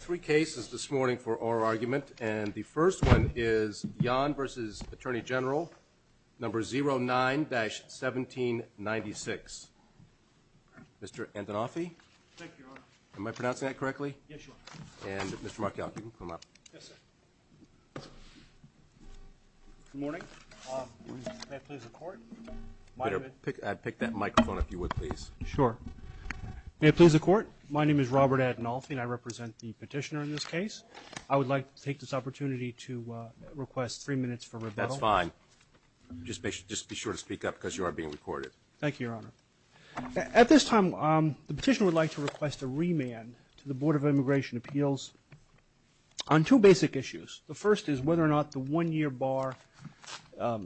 Three cases this morning for oral argument, and the first one is Yon v. Attorney General, number 09-1796. Mr. Antonoffy? Thank you, Your Honor. Am I pronouncing that correctly? Yes, Your Honor. And Mr. Markell, you can come up. Yes, sir. Good morning. May I please have the Court? I'd pick that microphone if you would, please. Sure. May I please have the Court? My name is Robert Antonoffy, and I represent the petitioner in this case. I would like to take this opportunity to request three minutes for rebuttal. That's fine. Just be sure to speak up because you are being recorded. Thank you, Your Honor. At this time, the petitioner would like to request a remand to the Board of Immigration Appeals on two basic issues. The first is whether or not the one-year bar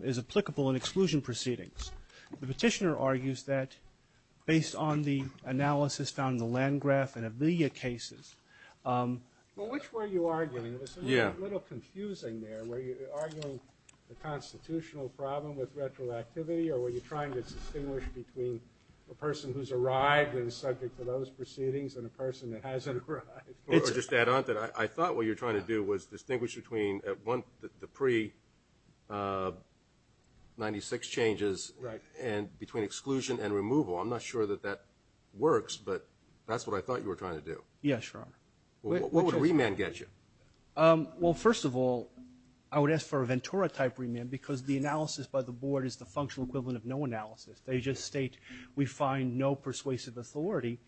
is applicable in exclusion proceedings. The petitioner argues that based on the analysis found in the Landgraf and Aviglia cases – Well, which were you arguing? It was a little confusing there. Were you arguing the constitutional problem with retroactivity, or were you trying to distinguish between a person who's arrived and is subject to those proceedings and a person that hasn't arrived? Or just to add on to that, I thought what you were trying to do was distinguish between the pre-'96 changes between exclusion and removal. I'm not sure that that works, but that's what I thought you were trying to do. Yes, Your Honor. What would a remand get you? Well, first of all, I would ask for a Ventura-type remand because the analysis by the Board is the functional equivalent of no analysis. They just state we find no persuasive authority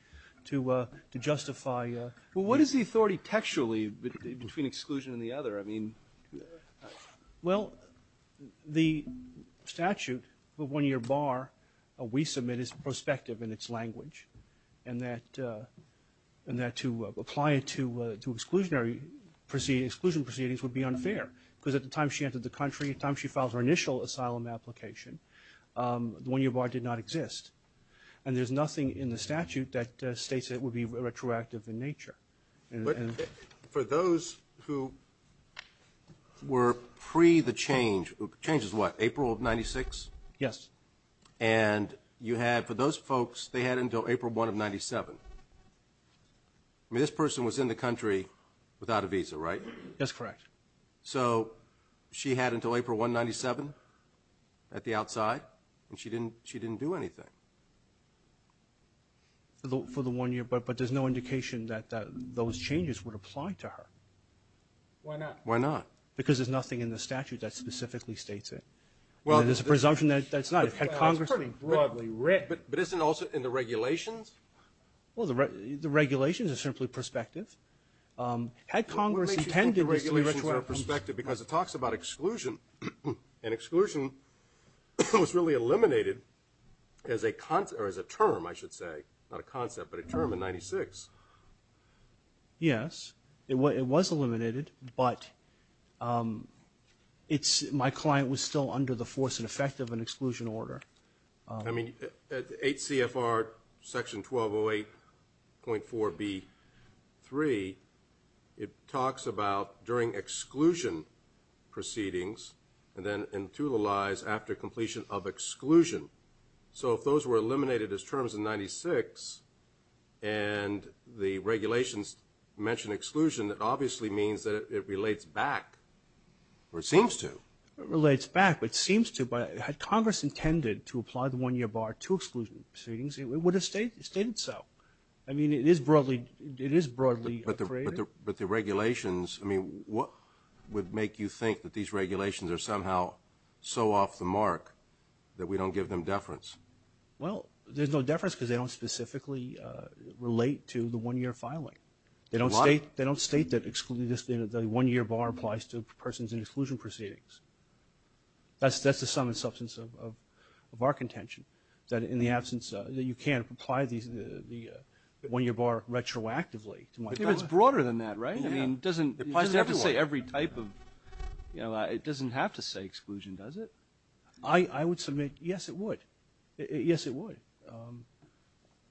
to justify – Well, what is the authority textually between exclusion and the other? I mean – Well, the statute, the one-year bar, we submit is prospective in its language, and that to apply it to exclusion proceedings would be unfair because at the time she entered the country, at the time she filed her initial asylum application, the one-year bar did not exist. And there's nothing in the statute that states it would be retroactive in nature. But for those who were pre-the change – change is what, April of 96? Yes. And you had – for those folks, they had until April 1 of 97. I mean, this person was in the country without a visa, right? That's correct. So she had until April 1 of 97 at the outside, and she didn't do anything. For the one-year, but there's no indication that those changes would apply to her. Why not? Why not? Because there's nothing in the statute that specifically states it. There's a presumption that it's not. It's pretty broadly written. But isn't also in the regulations? Well, the regulations are simply prospective. What makes you think the regulations are prospective? Because it talks about exclusion, and exclusion was really eliminated as a term, I should say, not a concept, but a term in 96. Yes. It was eliminated, but my client was still under the force and effect of an exclusion order. I mean, at 8 CFR Section 1208.4b.3, it talks about during exclusion proceedings and then into the lies after completion of exclusion. So if those were eliminated as terms in 96 and the regulations mention exclusion, it obviously means that it relates back, or it seems to. It relates back, but it seems to. Had Congress intended to apply the one-year bar to exclusion proceedings, it would have stated so. I mean, it is broadly created. But the regulations, I mean, what would make you think that these regulations are somehow so off the mark that we don't give them deference? Well, there's no deference because they don't specifically relate to the one-year filing. They don't state that the one-year bar applies to persons in exclusion proceedings. That's the sum and substance of our contention, that in the absence that you can't apply the one-year bar retroactively. It's broader than that, right? I mean, it doesn't have to say every type of, you know, it doesn't have to say exclusion, does it? I would submit, yes, it would. Yes, it would.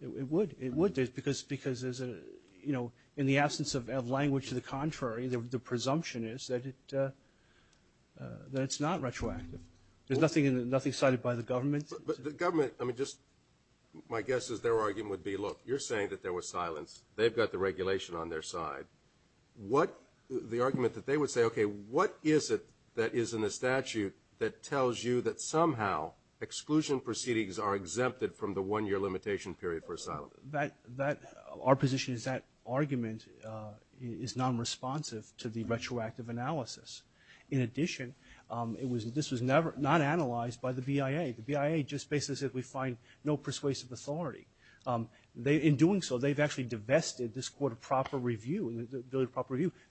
It would. It would because there's a, you know, in the absence of language to the contrary, the presumption is that it's not retroactive. There's nothing cited by the government. But the government, I mean, just my guess is their argument would be, look, you're saying that there was silence. They've got the regulation on their side. The argument that they would say, okay, what is it that is in the statute that tells you that somehow exclusion proceedings are exempted from the one-year limitation period for asylum? Our position is that argument is non-responsive to the retroactive analysis. In addition, this was not analyzed by the BIA. The BIA just basically said we find no persuasive authority. In doing so, they've actually divested this court of proper review.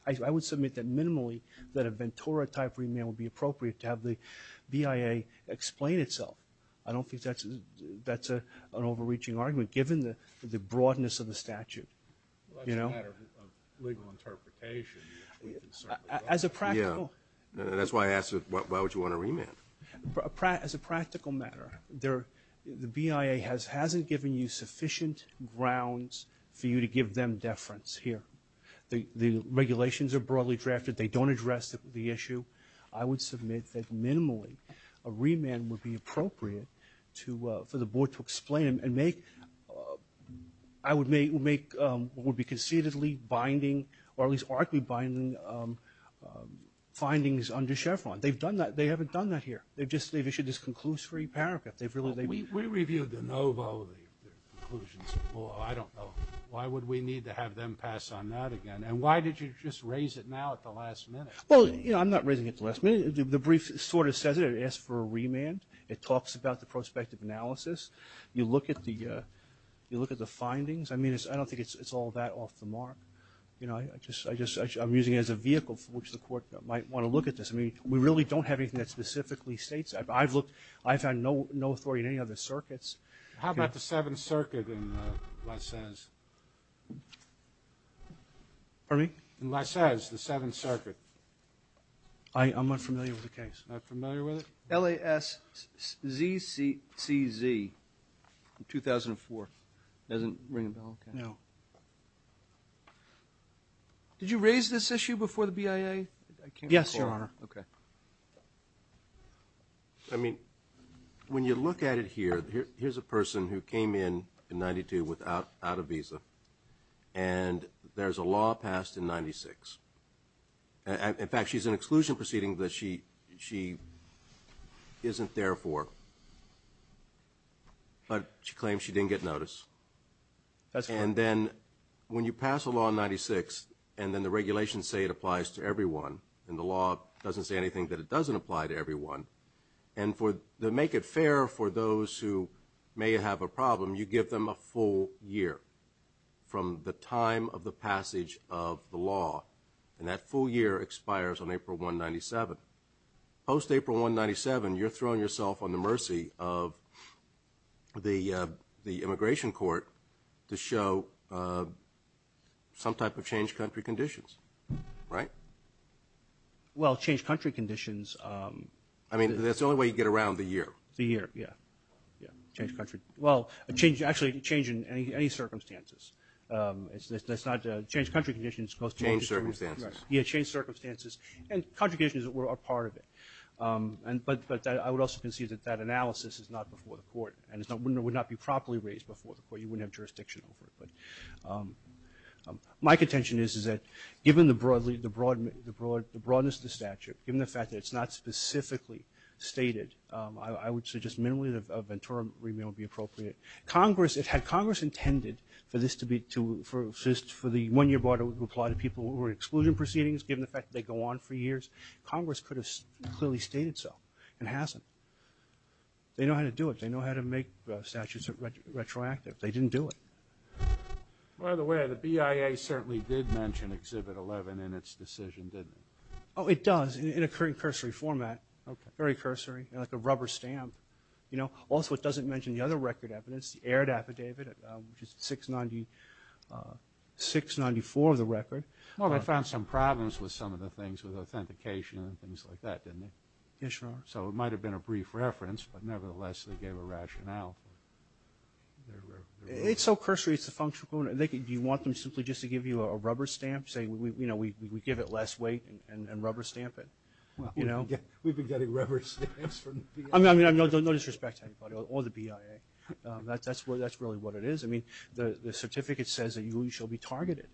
I would submit that minimally that a Ventura-type remand would be appropriate to have the BIA explain itself. I don't think that's an overreaching argument. Given the broadness of the statute, you know. That's a matter of legal interpretation. As a practical. Yeah, that's why I asked why would you want a remand. As a practical matter, the BIA hasn't given you sufficient grounds for you to give them deference here. The regulations are broadly drafted. They don't address the issue. I would submit that minimally a remand would be appropriate for the board to explain and make what would be concededly binding or at least arguably binding findings under Chevron. They've done that. They haven't done that here. They've issued this conclusory paragraph. We reviewed the NOVO, the conclusions. Well, I don't know. Why would we need to have them pass on that again? And why did you just raise it now at the last minute? Well, you know, I'm not raising it at the last minute. The brief sort of says it. It asks for a remand. It talks about the prospective analysis. You look at the findings. I mean, I don't think it's all that off the mark. You know, I'm using it as a vehicle for which the court might want to look at this. I mean, we really don't have anything that specifically states that. I've looked. I've had no authority in any other circuits. How about the Seventh Circuit in LaSez? Pardon me? In LaSez, the Seventh Circuit. I'm not familiar with the case. Not familiar with it? L-A-S-Z-C-Z, 2004. It doesn't ring a bell? No. Did you raise this issue before the BIA? Yes, Your Honor. Okay. I mean, when you look at it here, here's a person who came in in 92 without a visa, and there's a law passed in 96. In fact, she's in an exclusion proceeding that she isn't there for, but she claims she didn't get notice. And then when you pass a law in 96 and then the regulations say it applies to everyone and the law doesn't say anything that it doesn't apply to everyone, and to make it fair for those who may have a problem, you give them a full year from the time of the passage of the law, and that full year expires on April 197. Post-April 197, you're throwing yourself on the mercy of the immigration court to show some type of changed country conditions, right? Well, changed country conditions. I mean, that's the only way you get around the year. The year, yeah. Changed country. Well, actually, change in any circumstances. It's not changed country conditions, it's changed circumstances. Changed circumstances. Yeah, changed circumstances. And country conditions are part of it. But I would also concede that that analysis is not before the court and would not be properly raised before the court. You wouldn't have jurisdiction over it. My contention is that given the broadness of the statute, given the fact that it's not specifically stated, I would suggest minimally that a Ventura remand would be appropriate. If Congress intended for the one-year bar to apply to people who were in exclusion proceedings, given the fact that they go on for years, Congress could have clearly stated so and hasn't. They know how to do it. They know how to make statutes retroactive. They didn't do it. By the way, the BIA certainly did mention Exhibit 11 in its decision, didn't it? Oh, it does, in a cursory format, very cursory. Like a rubber stamp. Also, it doesn't mention the other record evidence, the Aird Affidavit, which is 694 of the record. Well, they found some problems with some of the things, with authentication and things like that, didn't they? Yes, Your Honor. So it might have been a brief reference, but nevertheless they gave a rationale. It's so cursory, it's a functional component. Do you want them simply just to give you a rubber stamp, saying we give it less weight and rubber stamp it? We've been getting rubber stamps from the BIA. I mean, no disrespect to anybody or the BIA. That's really what it is. I mean, the certificate says that you shall be targeted.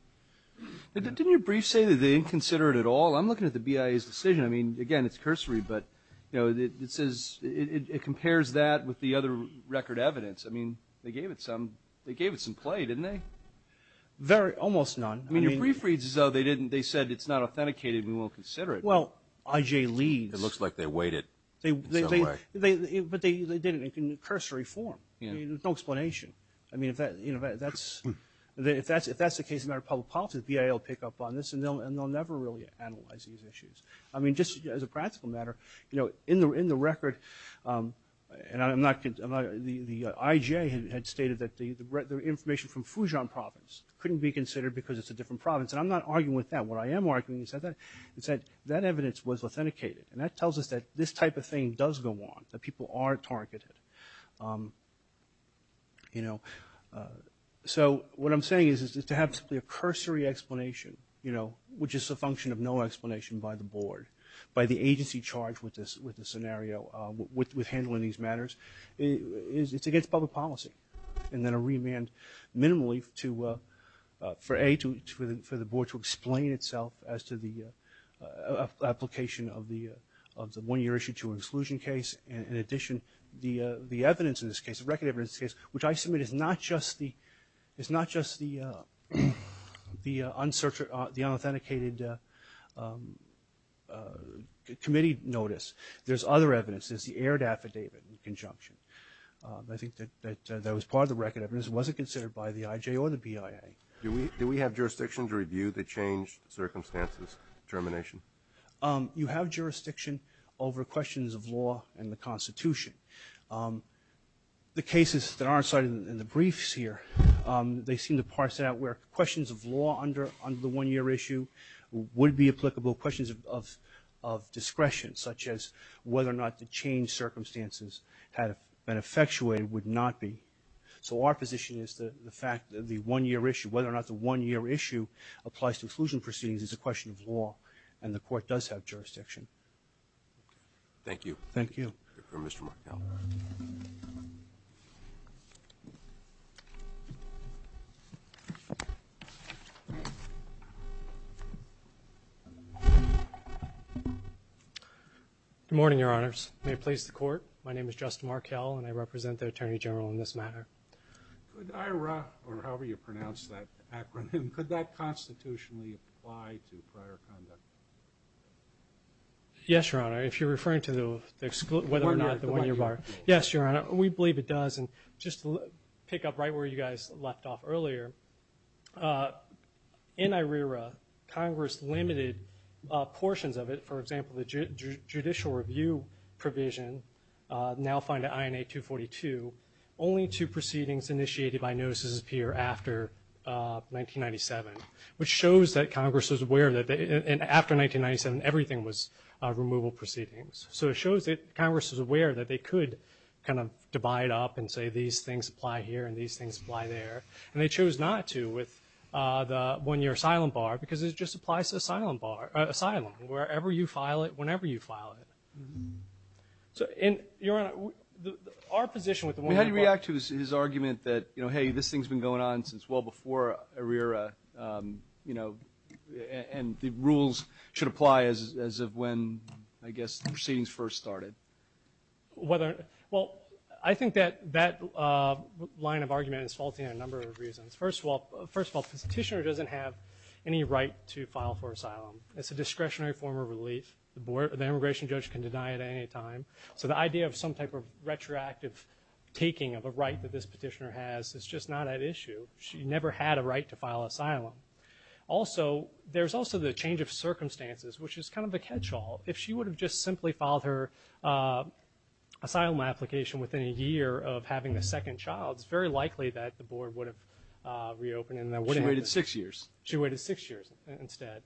Didn't your brief say that they didn't consider it at all? I'm looking at the BIA's decision. I mean, again, it's cursory, but, you know, it compares that with the other record evidence. I mean, they gave it some play, didn't they? Almost none. I mean, your brief reads as though they said it's not authenticated and we won't consider it. Well, IJ leads. It looks like they waited in some way. But they did it in cursory form. There's no explanation. I mean, if that's the case in our public policy, the BIA will pick up on this, and they'll never really analyze these issues. I mean, just as a practical matter, you know, in the record, the IJ had stated that the information from Fujian province couldn't be considered because it's a different province. And I'm not arguing with that. What I am arguing is that that evidence was authenticated, and that tells us that this type of thing does go on, that people are targeted. So what I'm saying is to have simply a cursory explanation, you know, which is a function of no explanation by the board, by the agency charged with this scenario, with handling these matters, it's against public policy. And then a remand minimally for A, for the board to explain itself as to the application of the one-year issue to an exclusion case. In addition, the evidence in this case, the record evidence in this case, which I submit is not just the unauthenticated committee notice. There's other evidence. There's the aired affidavit in conjunction. I think that that was part of the record evidence. It wasn't considered by the IJ or the BIA. Do we have jurisdiction to review the changed circumstances termination? You have jurisdiction over questions of law and the Constitution. The cases that are cited in the briefs here, they seem to parse out where questions of law under the one-year issue would be applicable, questions of discretion, such as whether or not the change circumstances had been effectuated would not be. So our position is the fact that the one-year issue, whether or not the one-year issue applies to exclusion proceedings is a question of law and the court does have jurisdiction. Thank you. Thank you. Mr. Markell. Good morning, Your Honors. May it please the court. My name is Justin Markell and I represent the Attorney General in this matter. Could IRA or however you pronounce that acronym, could that constitutionally apply to prior conduct? Yes, Your Honor. If you're referring to the exclude, whether or not the one-year bar, yes, Your Honor, we believe it does. And just to pick up right where you guys left off earlier, uh, in IRIRA Congress limited, uh, portions of it. For example, the judicial review provision, uh, now find that INA 242 only two proceedings initiated by notices appear after, uh, 1997, which shows that Congress is aware of that. And after 1997, everything was, uh, removal proceedings. So it shows that Congress is aware that they could kind of divide up and say these things apply here and these things apply there. And they chose not to with, uh, the one-year asylum bar, because it just applies to asylum bar, uh, asylum wherever you file it, whenever you file it. So in, Your Honor, our position with the one-year bar. How do you react to his argument that, you know, hey, this thing's been going on since well before IRIRA, um, you know, and the rules should apply as, as of when, I guess, the proceedings first started. Whether, well, I think that, that, uh, line of argument is faulty in a number of reasons. First of all, first of all, this petitioner doesn't have any right to file for asylum. It's a discretionary form of relief. The board, the immigration judge can deny it at any time. So the idea of some type of retroactive taking of a right that this petitioner has is just not at issue. She never had a right to file asylum. Also, there's also the change of circumstances, which is kind of the catchall. If she would have just simply filed her, uh, asylum application within a year of having the second child, it's very likely that the board would have, uh, reopened. She waited six years. She waited six years instead.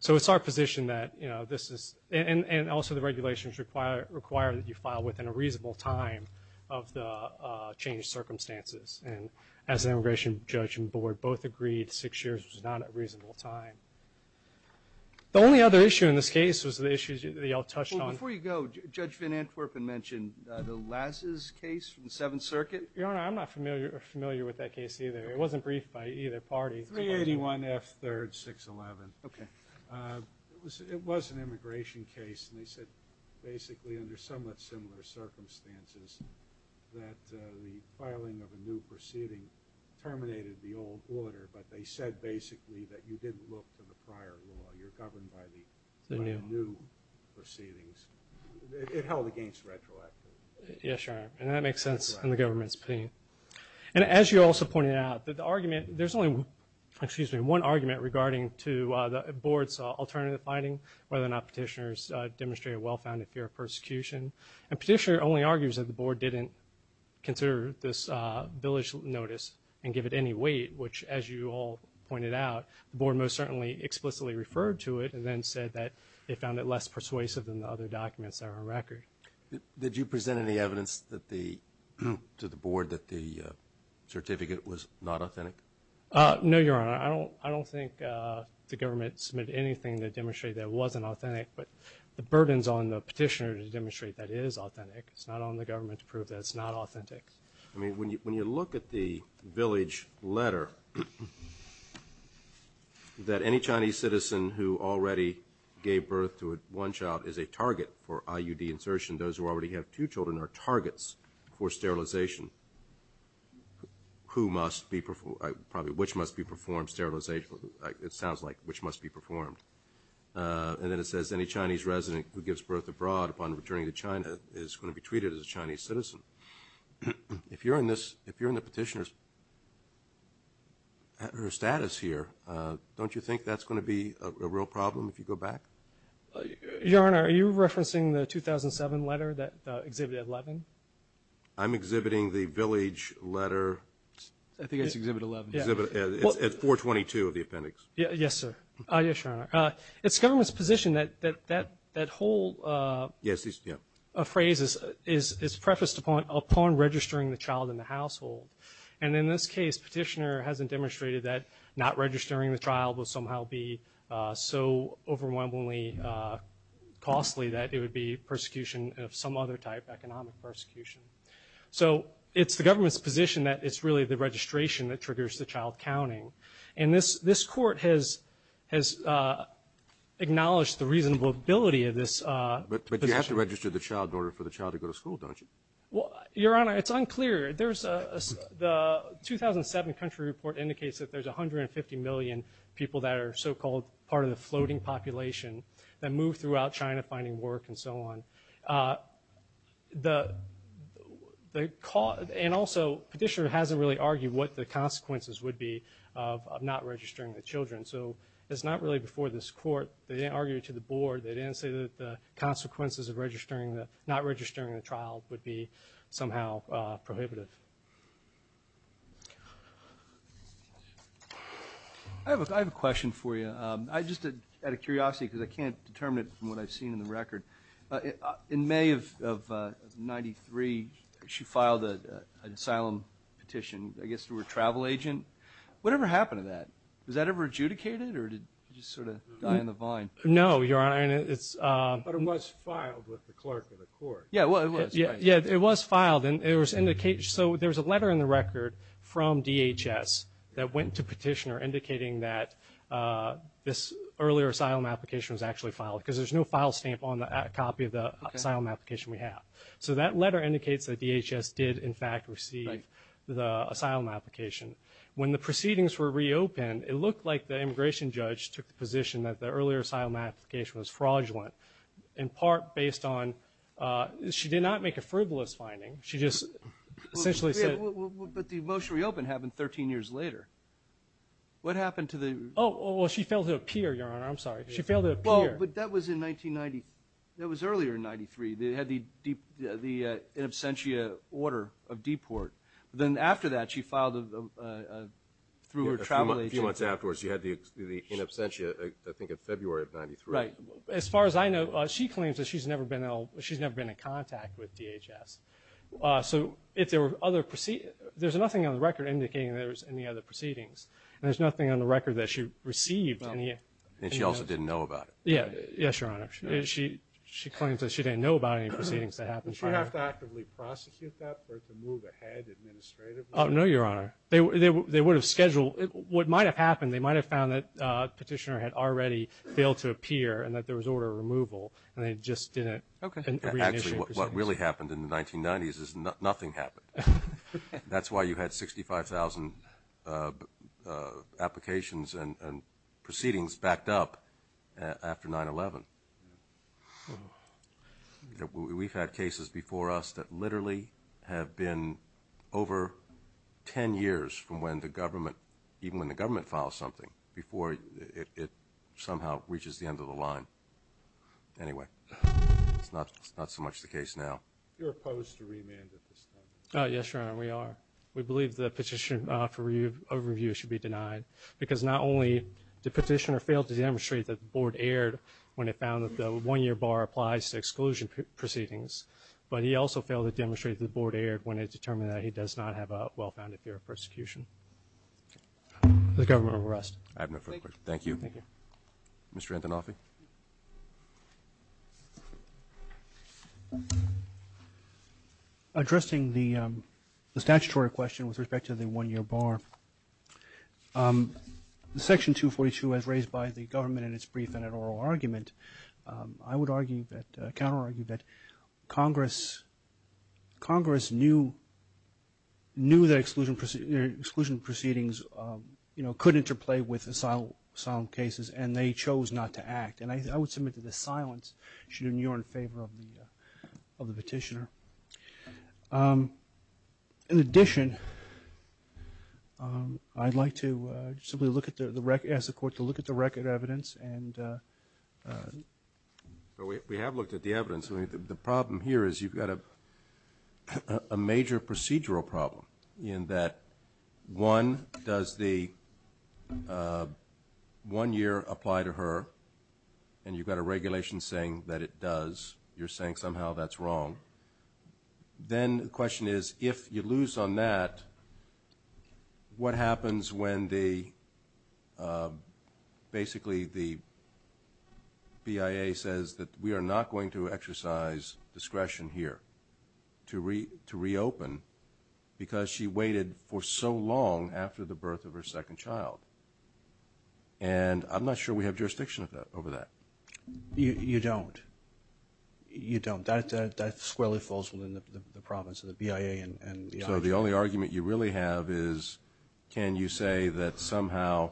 So it's our position that, you know, this is, and, and also the regulations require, require that you file within a reasonable time of the, uh, changed circumstances. And as an immigration judge and board both agreed six years was not a reasonable time. The only other issue in this case was the issues that y'all touched on. Before you go, Judge Van Antwerpen mentioned, uh, the Las's case from the seventh circuit. Your Honor, I'm not familiar or familiar with that case either. It wasn't briefed by either party. 381 F third six 11. Okay. Uh, it was, it was an immigration case and they said basically under somewhat similar circumstances that, uh, the filing of a new proceeding terminated the old order, but they said basically that you didn't look to the prior law. You're governed by the new proceedings. It held against retroactive. Yeah, sure. And that makes sense in the government's pain. And as you also pointed out that the argument, there's only, excuse me, one argument regarding to, uh, the board's alternative finding, whether or not petitioners, uh, demonstrate a well-founded fear of persecution and petitioner only argues that the board didn't consider this, uh, village notice and give it any weight, which as you all pointed out, the board most certainly explicitly referred to it and then said that they were less persuasive than the other documents that are on record. Did you present any evidence that the, to the board, that the certificate was not authentic? Uh, no, your honor. I don't, I don't think, uh, the government submit anything to demonstrate that it wasn't authentic, but the burdens on the petitioner to demonstrate that it is authentic. It's not on the government to prove that it's not authentic. I mean, when you, when you look at the village letter, that any Chinese citizen who already gave birth to one child is a target for IUD insertion. Those who already have two children are targets for sterilization, who must be, probably which must be performed sterilization. It sounds like which must be performed. Uh, and then it says any Chinese resident who gives birth abroad upon returning to China is going to be treated as a Chinese citizen. If you're in this, if you're in the petitioner's status here, uh, don't you think that's going to be a real problem if you go back? Your honor, are you referencing the 2007 letter that exhibited 11? I'm exhibiting the village letter. I think it's exhibit 11. It's at 422 of the appendix. Yes, sir. Uh, yes, your honor. Uh, it's government's position that, that, that whole, uh, a phrase is, is, is upon registering the child in the household. And in this case, petitioner hasn't demonstrated that not registering the child will somehow be, uh, so overwhelmingly, uh, costly that it would be persecution of some other type economic persecution. So it's the government's position that it's really the registration that triggers the child counting. And this, this court has, has, uh, acknowledged the reasonable ability of this, uh, but you have to register the child in order for the child to go to school, don't you? Well, your honor, it's unclear. There's a, the 2007 country report indicates that there's 150 million people that are so called part of the floating population that move throughout China finding work and so on. Uh, the, the call and also petitioner hasn't really argued what the consequences would be of, of not registering the children. So it's not really before this court, they didn't argue to the board. They didn't say that the consequences of registering the, not registering the child would be somehow, uh, prohibitive. I have a, I have a question for you. Um, I just did out of curiosity, cause I can't determine it from what I've seen in the record. Uh, in May of, of, uh, 93, she filed a, uh, an asylum petition, I guess through a travel agent. Whatever happened to that? Was that ever adjudicated or did you just sort of die in the vine? No, your honor. And it's, uh, but it was filed with the clerk of the court. Yeah, it was filed and it was indicated. So there was a letter in the record from DHS that went to petitioner indicating that, uh, this earlier asylum application was actually filed because there's no file stamp on the copy of the asylum application we have. So that letter indicates that DHS did in fact receive the asylum application. When the proceedings were reopened, it looked like the immigration judge took the position that the earlier asylum application was fraudulent in part based on, uh, she did not make a frivolous finding. She just essentially said, but the motion reopened happened 13 years later. What happened to the, Oh, well, she failed to appear your honor. I'm sorry. She failed to appear. But that was in 1990. That was earlier in 93. They had the deep, the, uh, in absentia order of deport. Then after that she filed a, uh, uh, through a travel agent. Once afterwards you had the, the, in absentia, I think in February of 93. As far as I know, she claims that she's never been ill. She's never been in contact with DHS. Uh, so if there were other proceedings, there's nothing on the record indicating that there was any other proceedings and there's nothing on the record that she received. And she also didn't know about it. Yeah. Yes, your honor. She, she claims that she didn't know about any proceedings that happened. Did she have to actively prosecute that or to move ahead administratively? No, your honor. They, they, they would have scheduled what might've happened. They might've found that a petitioner had already failed to appear and that there was order of removal and they just didn't. Okay. What really happened in the 1990s is nothing happened. That's why you had 65,000, uh, uh, applications and proceedings backed up after nine 11. We've had cases before us that literally have been over 10 years from when the government, even when the government files something before it, it somehow reaches the end of the line. Anyway, it's not, it's not so much the case now. You're opposed to remand at this time. Oh yes, your honor. We are. We believe the petition for review overview should be denied because not only did petitioner failed to demonstrate that the board aired when it found that the one year bar applies to exclusion proceedings, but he also failed to demonstrate that the board aired when it determined that he does not have a well-founded fear of persecution. The government will rest. I have no further questions. Thank you. Thank you. Mr. Antonoff. Addressing the, um, the statutory question with respect to the one year bar, um, the section two 42 has raised by the government and it's brief and an oral argument. Um, I would argue that, uh, counter argue that Congress, Congress knew, knew that exclusion, exclusion proceedings, um, you know, could interplay with asylum cases and they chose not to act. And I would submit to the silence should in your in favor of the, uh, of the petitioner. Um, in addition, um, I'd like to simply look at the record as a court to look at the record evidence and, uh, we have looked at the evidence. I mean, the problem here is you've got a, a major procedural problem in that one does the, uh, one year apply to her and you've got a regulation saying that it does. You're saying somehow that's wrong. Then the question is, if you lose on that, what happens when the, uh, basically the BIA says that we are not going to exercise discretion here to re to reopen because she waited for so long after the birth of her second child. And I'm not sure we have jurisdiction of that over that. You don't, you don't, that, that, that squarely falls within the province of the BIA and the only argument you really have is, can you say that somehow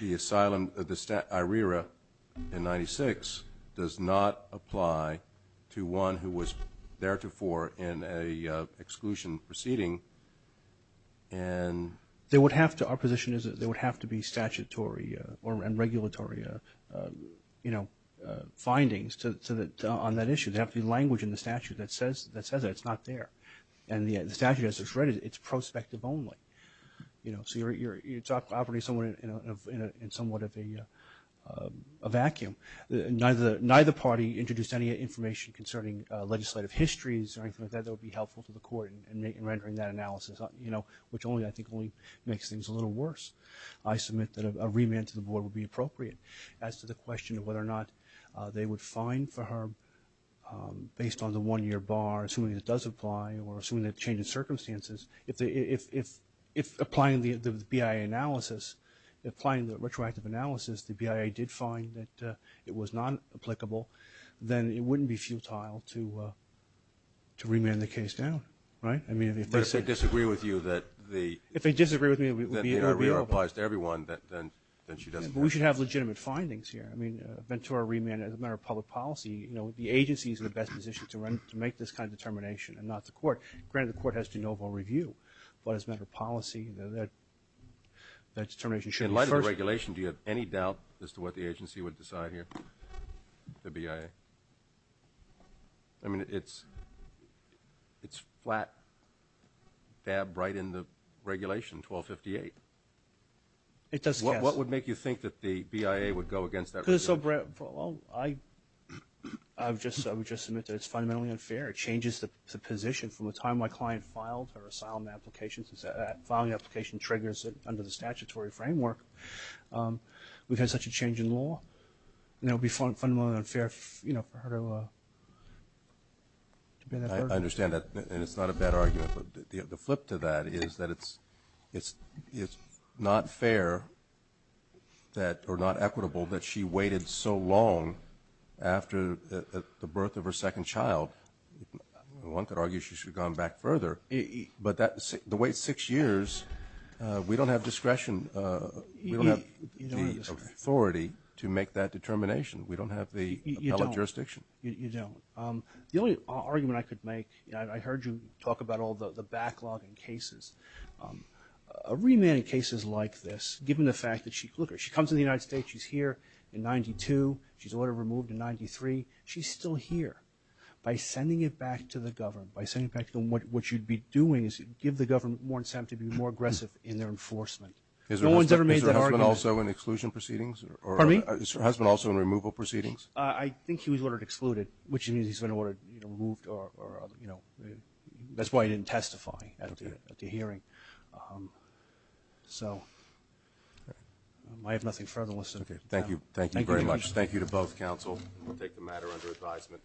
the asylum, the stat IRIRA in 96 does not apply to one who was there to for in a exclusion proceeding and they would have to, our position is that there would have to be statutory, uh, or, and regulatory, uh, uh, you know, uh, findings to, to, that on that issue, they have to be language in the statute that says that says that it's not there and the statute as it's read it, it's prospective only, you know, so you're, you're, it's operating somewhere in a, in a, in somewhat of a, uh, a vacuum. Neither, neither party introduced any information concerning legislative histories or anything like that that would be helpful to the court and make and rendering that analysis, you know, which only I think only makes things a little worse. I submit that a remand to the board would be appropriate as to the question of whether or not, uh, they would find for her, um, based on the one year bar assuming that does apply or assuming that changes circumstances. If the, if, if, if applying the BIA analysis, applying the retroactive analysis, the BIA did find that, uh, it was not applicable, then it wouldn't be futile to, uh, to remand the case down. Right? I mean, if they said, disagree with you that the, if they disagree with me, it would be applies to everyone that then she doesn't, we should have legitimate findings here. I mean, uh, Ventura remand, as a matter of public policy, you know, the agency is in the best position to run, to make this kind of determination and not the court granted the court has to novel review, but as a matter of policy, you know, that, that determination. In light of the regulation, do you have any doubt as to what the agency would decide here? The BIA? I mean, it's, it's flat dab right in the regulation 1258. It does. What would make you think that the BIA would go against that? I've just, I would just submit that it's fundamentally unfair. It changes the position from the time my client filed her asylum applications is that filing application triggers it under the statutory framework. Um, we've had such a change in law and it would be fundamentally unfair, you know, for her to, uh, to be there. I understand that. And it's not a bad argument. The flip to that is that it's, it's, it's not fair that or not equitable that she waited so long after the birth of her second child. One could argue she should have gone back further, but that the way six years, uh, we don't have discretion, uh, we don't have the authority to make that determination. We don't have the appellate jurisdiction. You don't. Um, the only argument I could make, and I heard you talk about all the backlog in cases, um, a remand in cases like this, given the fact that she, look, she comes to the United States, she's here in 92, she's ordered removed in 93, she's still here. By sending it back to the government, by sending it back to them, what you'd be doing is give the government more incentive to be more aggressive in their enforcement. No one's ever made that argument. Is her husband also in exclusion proceedings? Pardon me? Is her husband also in removal proceedings? Uh, I think he was ordered excluded, which means he's been ordered, you know, removed or, or, you know, that's why I didn't testify at the hearing. Um, so I have nothing further. Okay. Thank you. Thank you very much. Thank you to both counsel. We'll take the matter under advisement.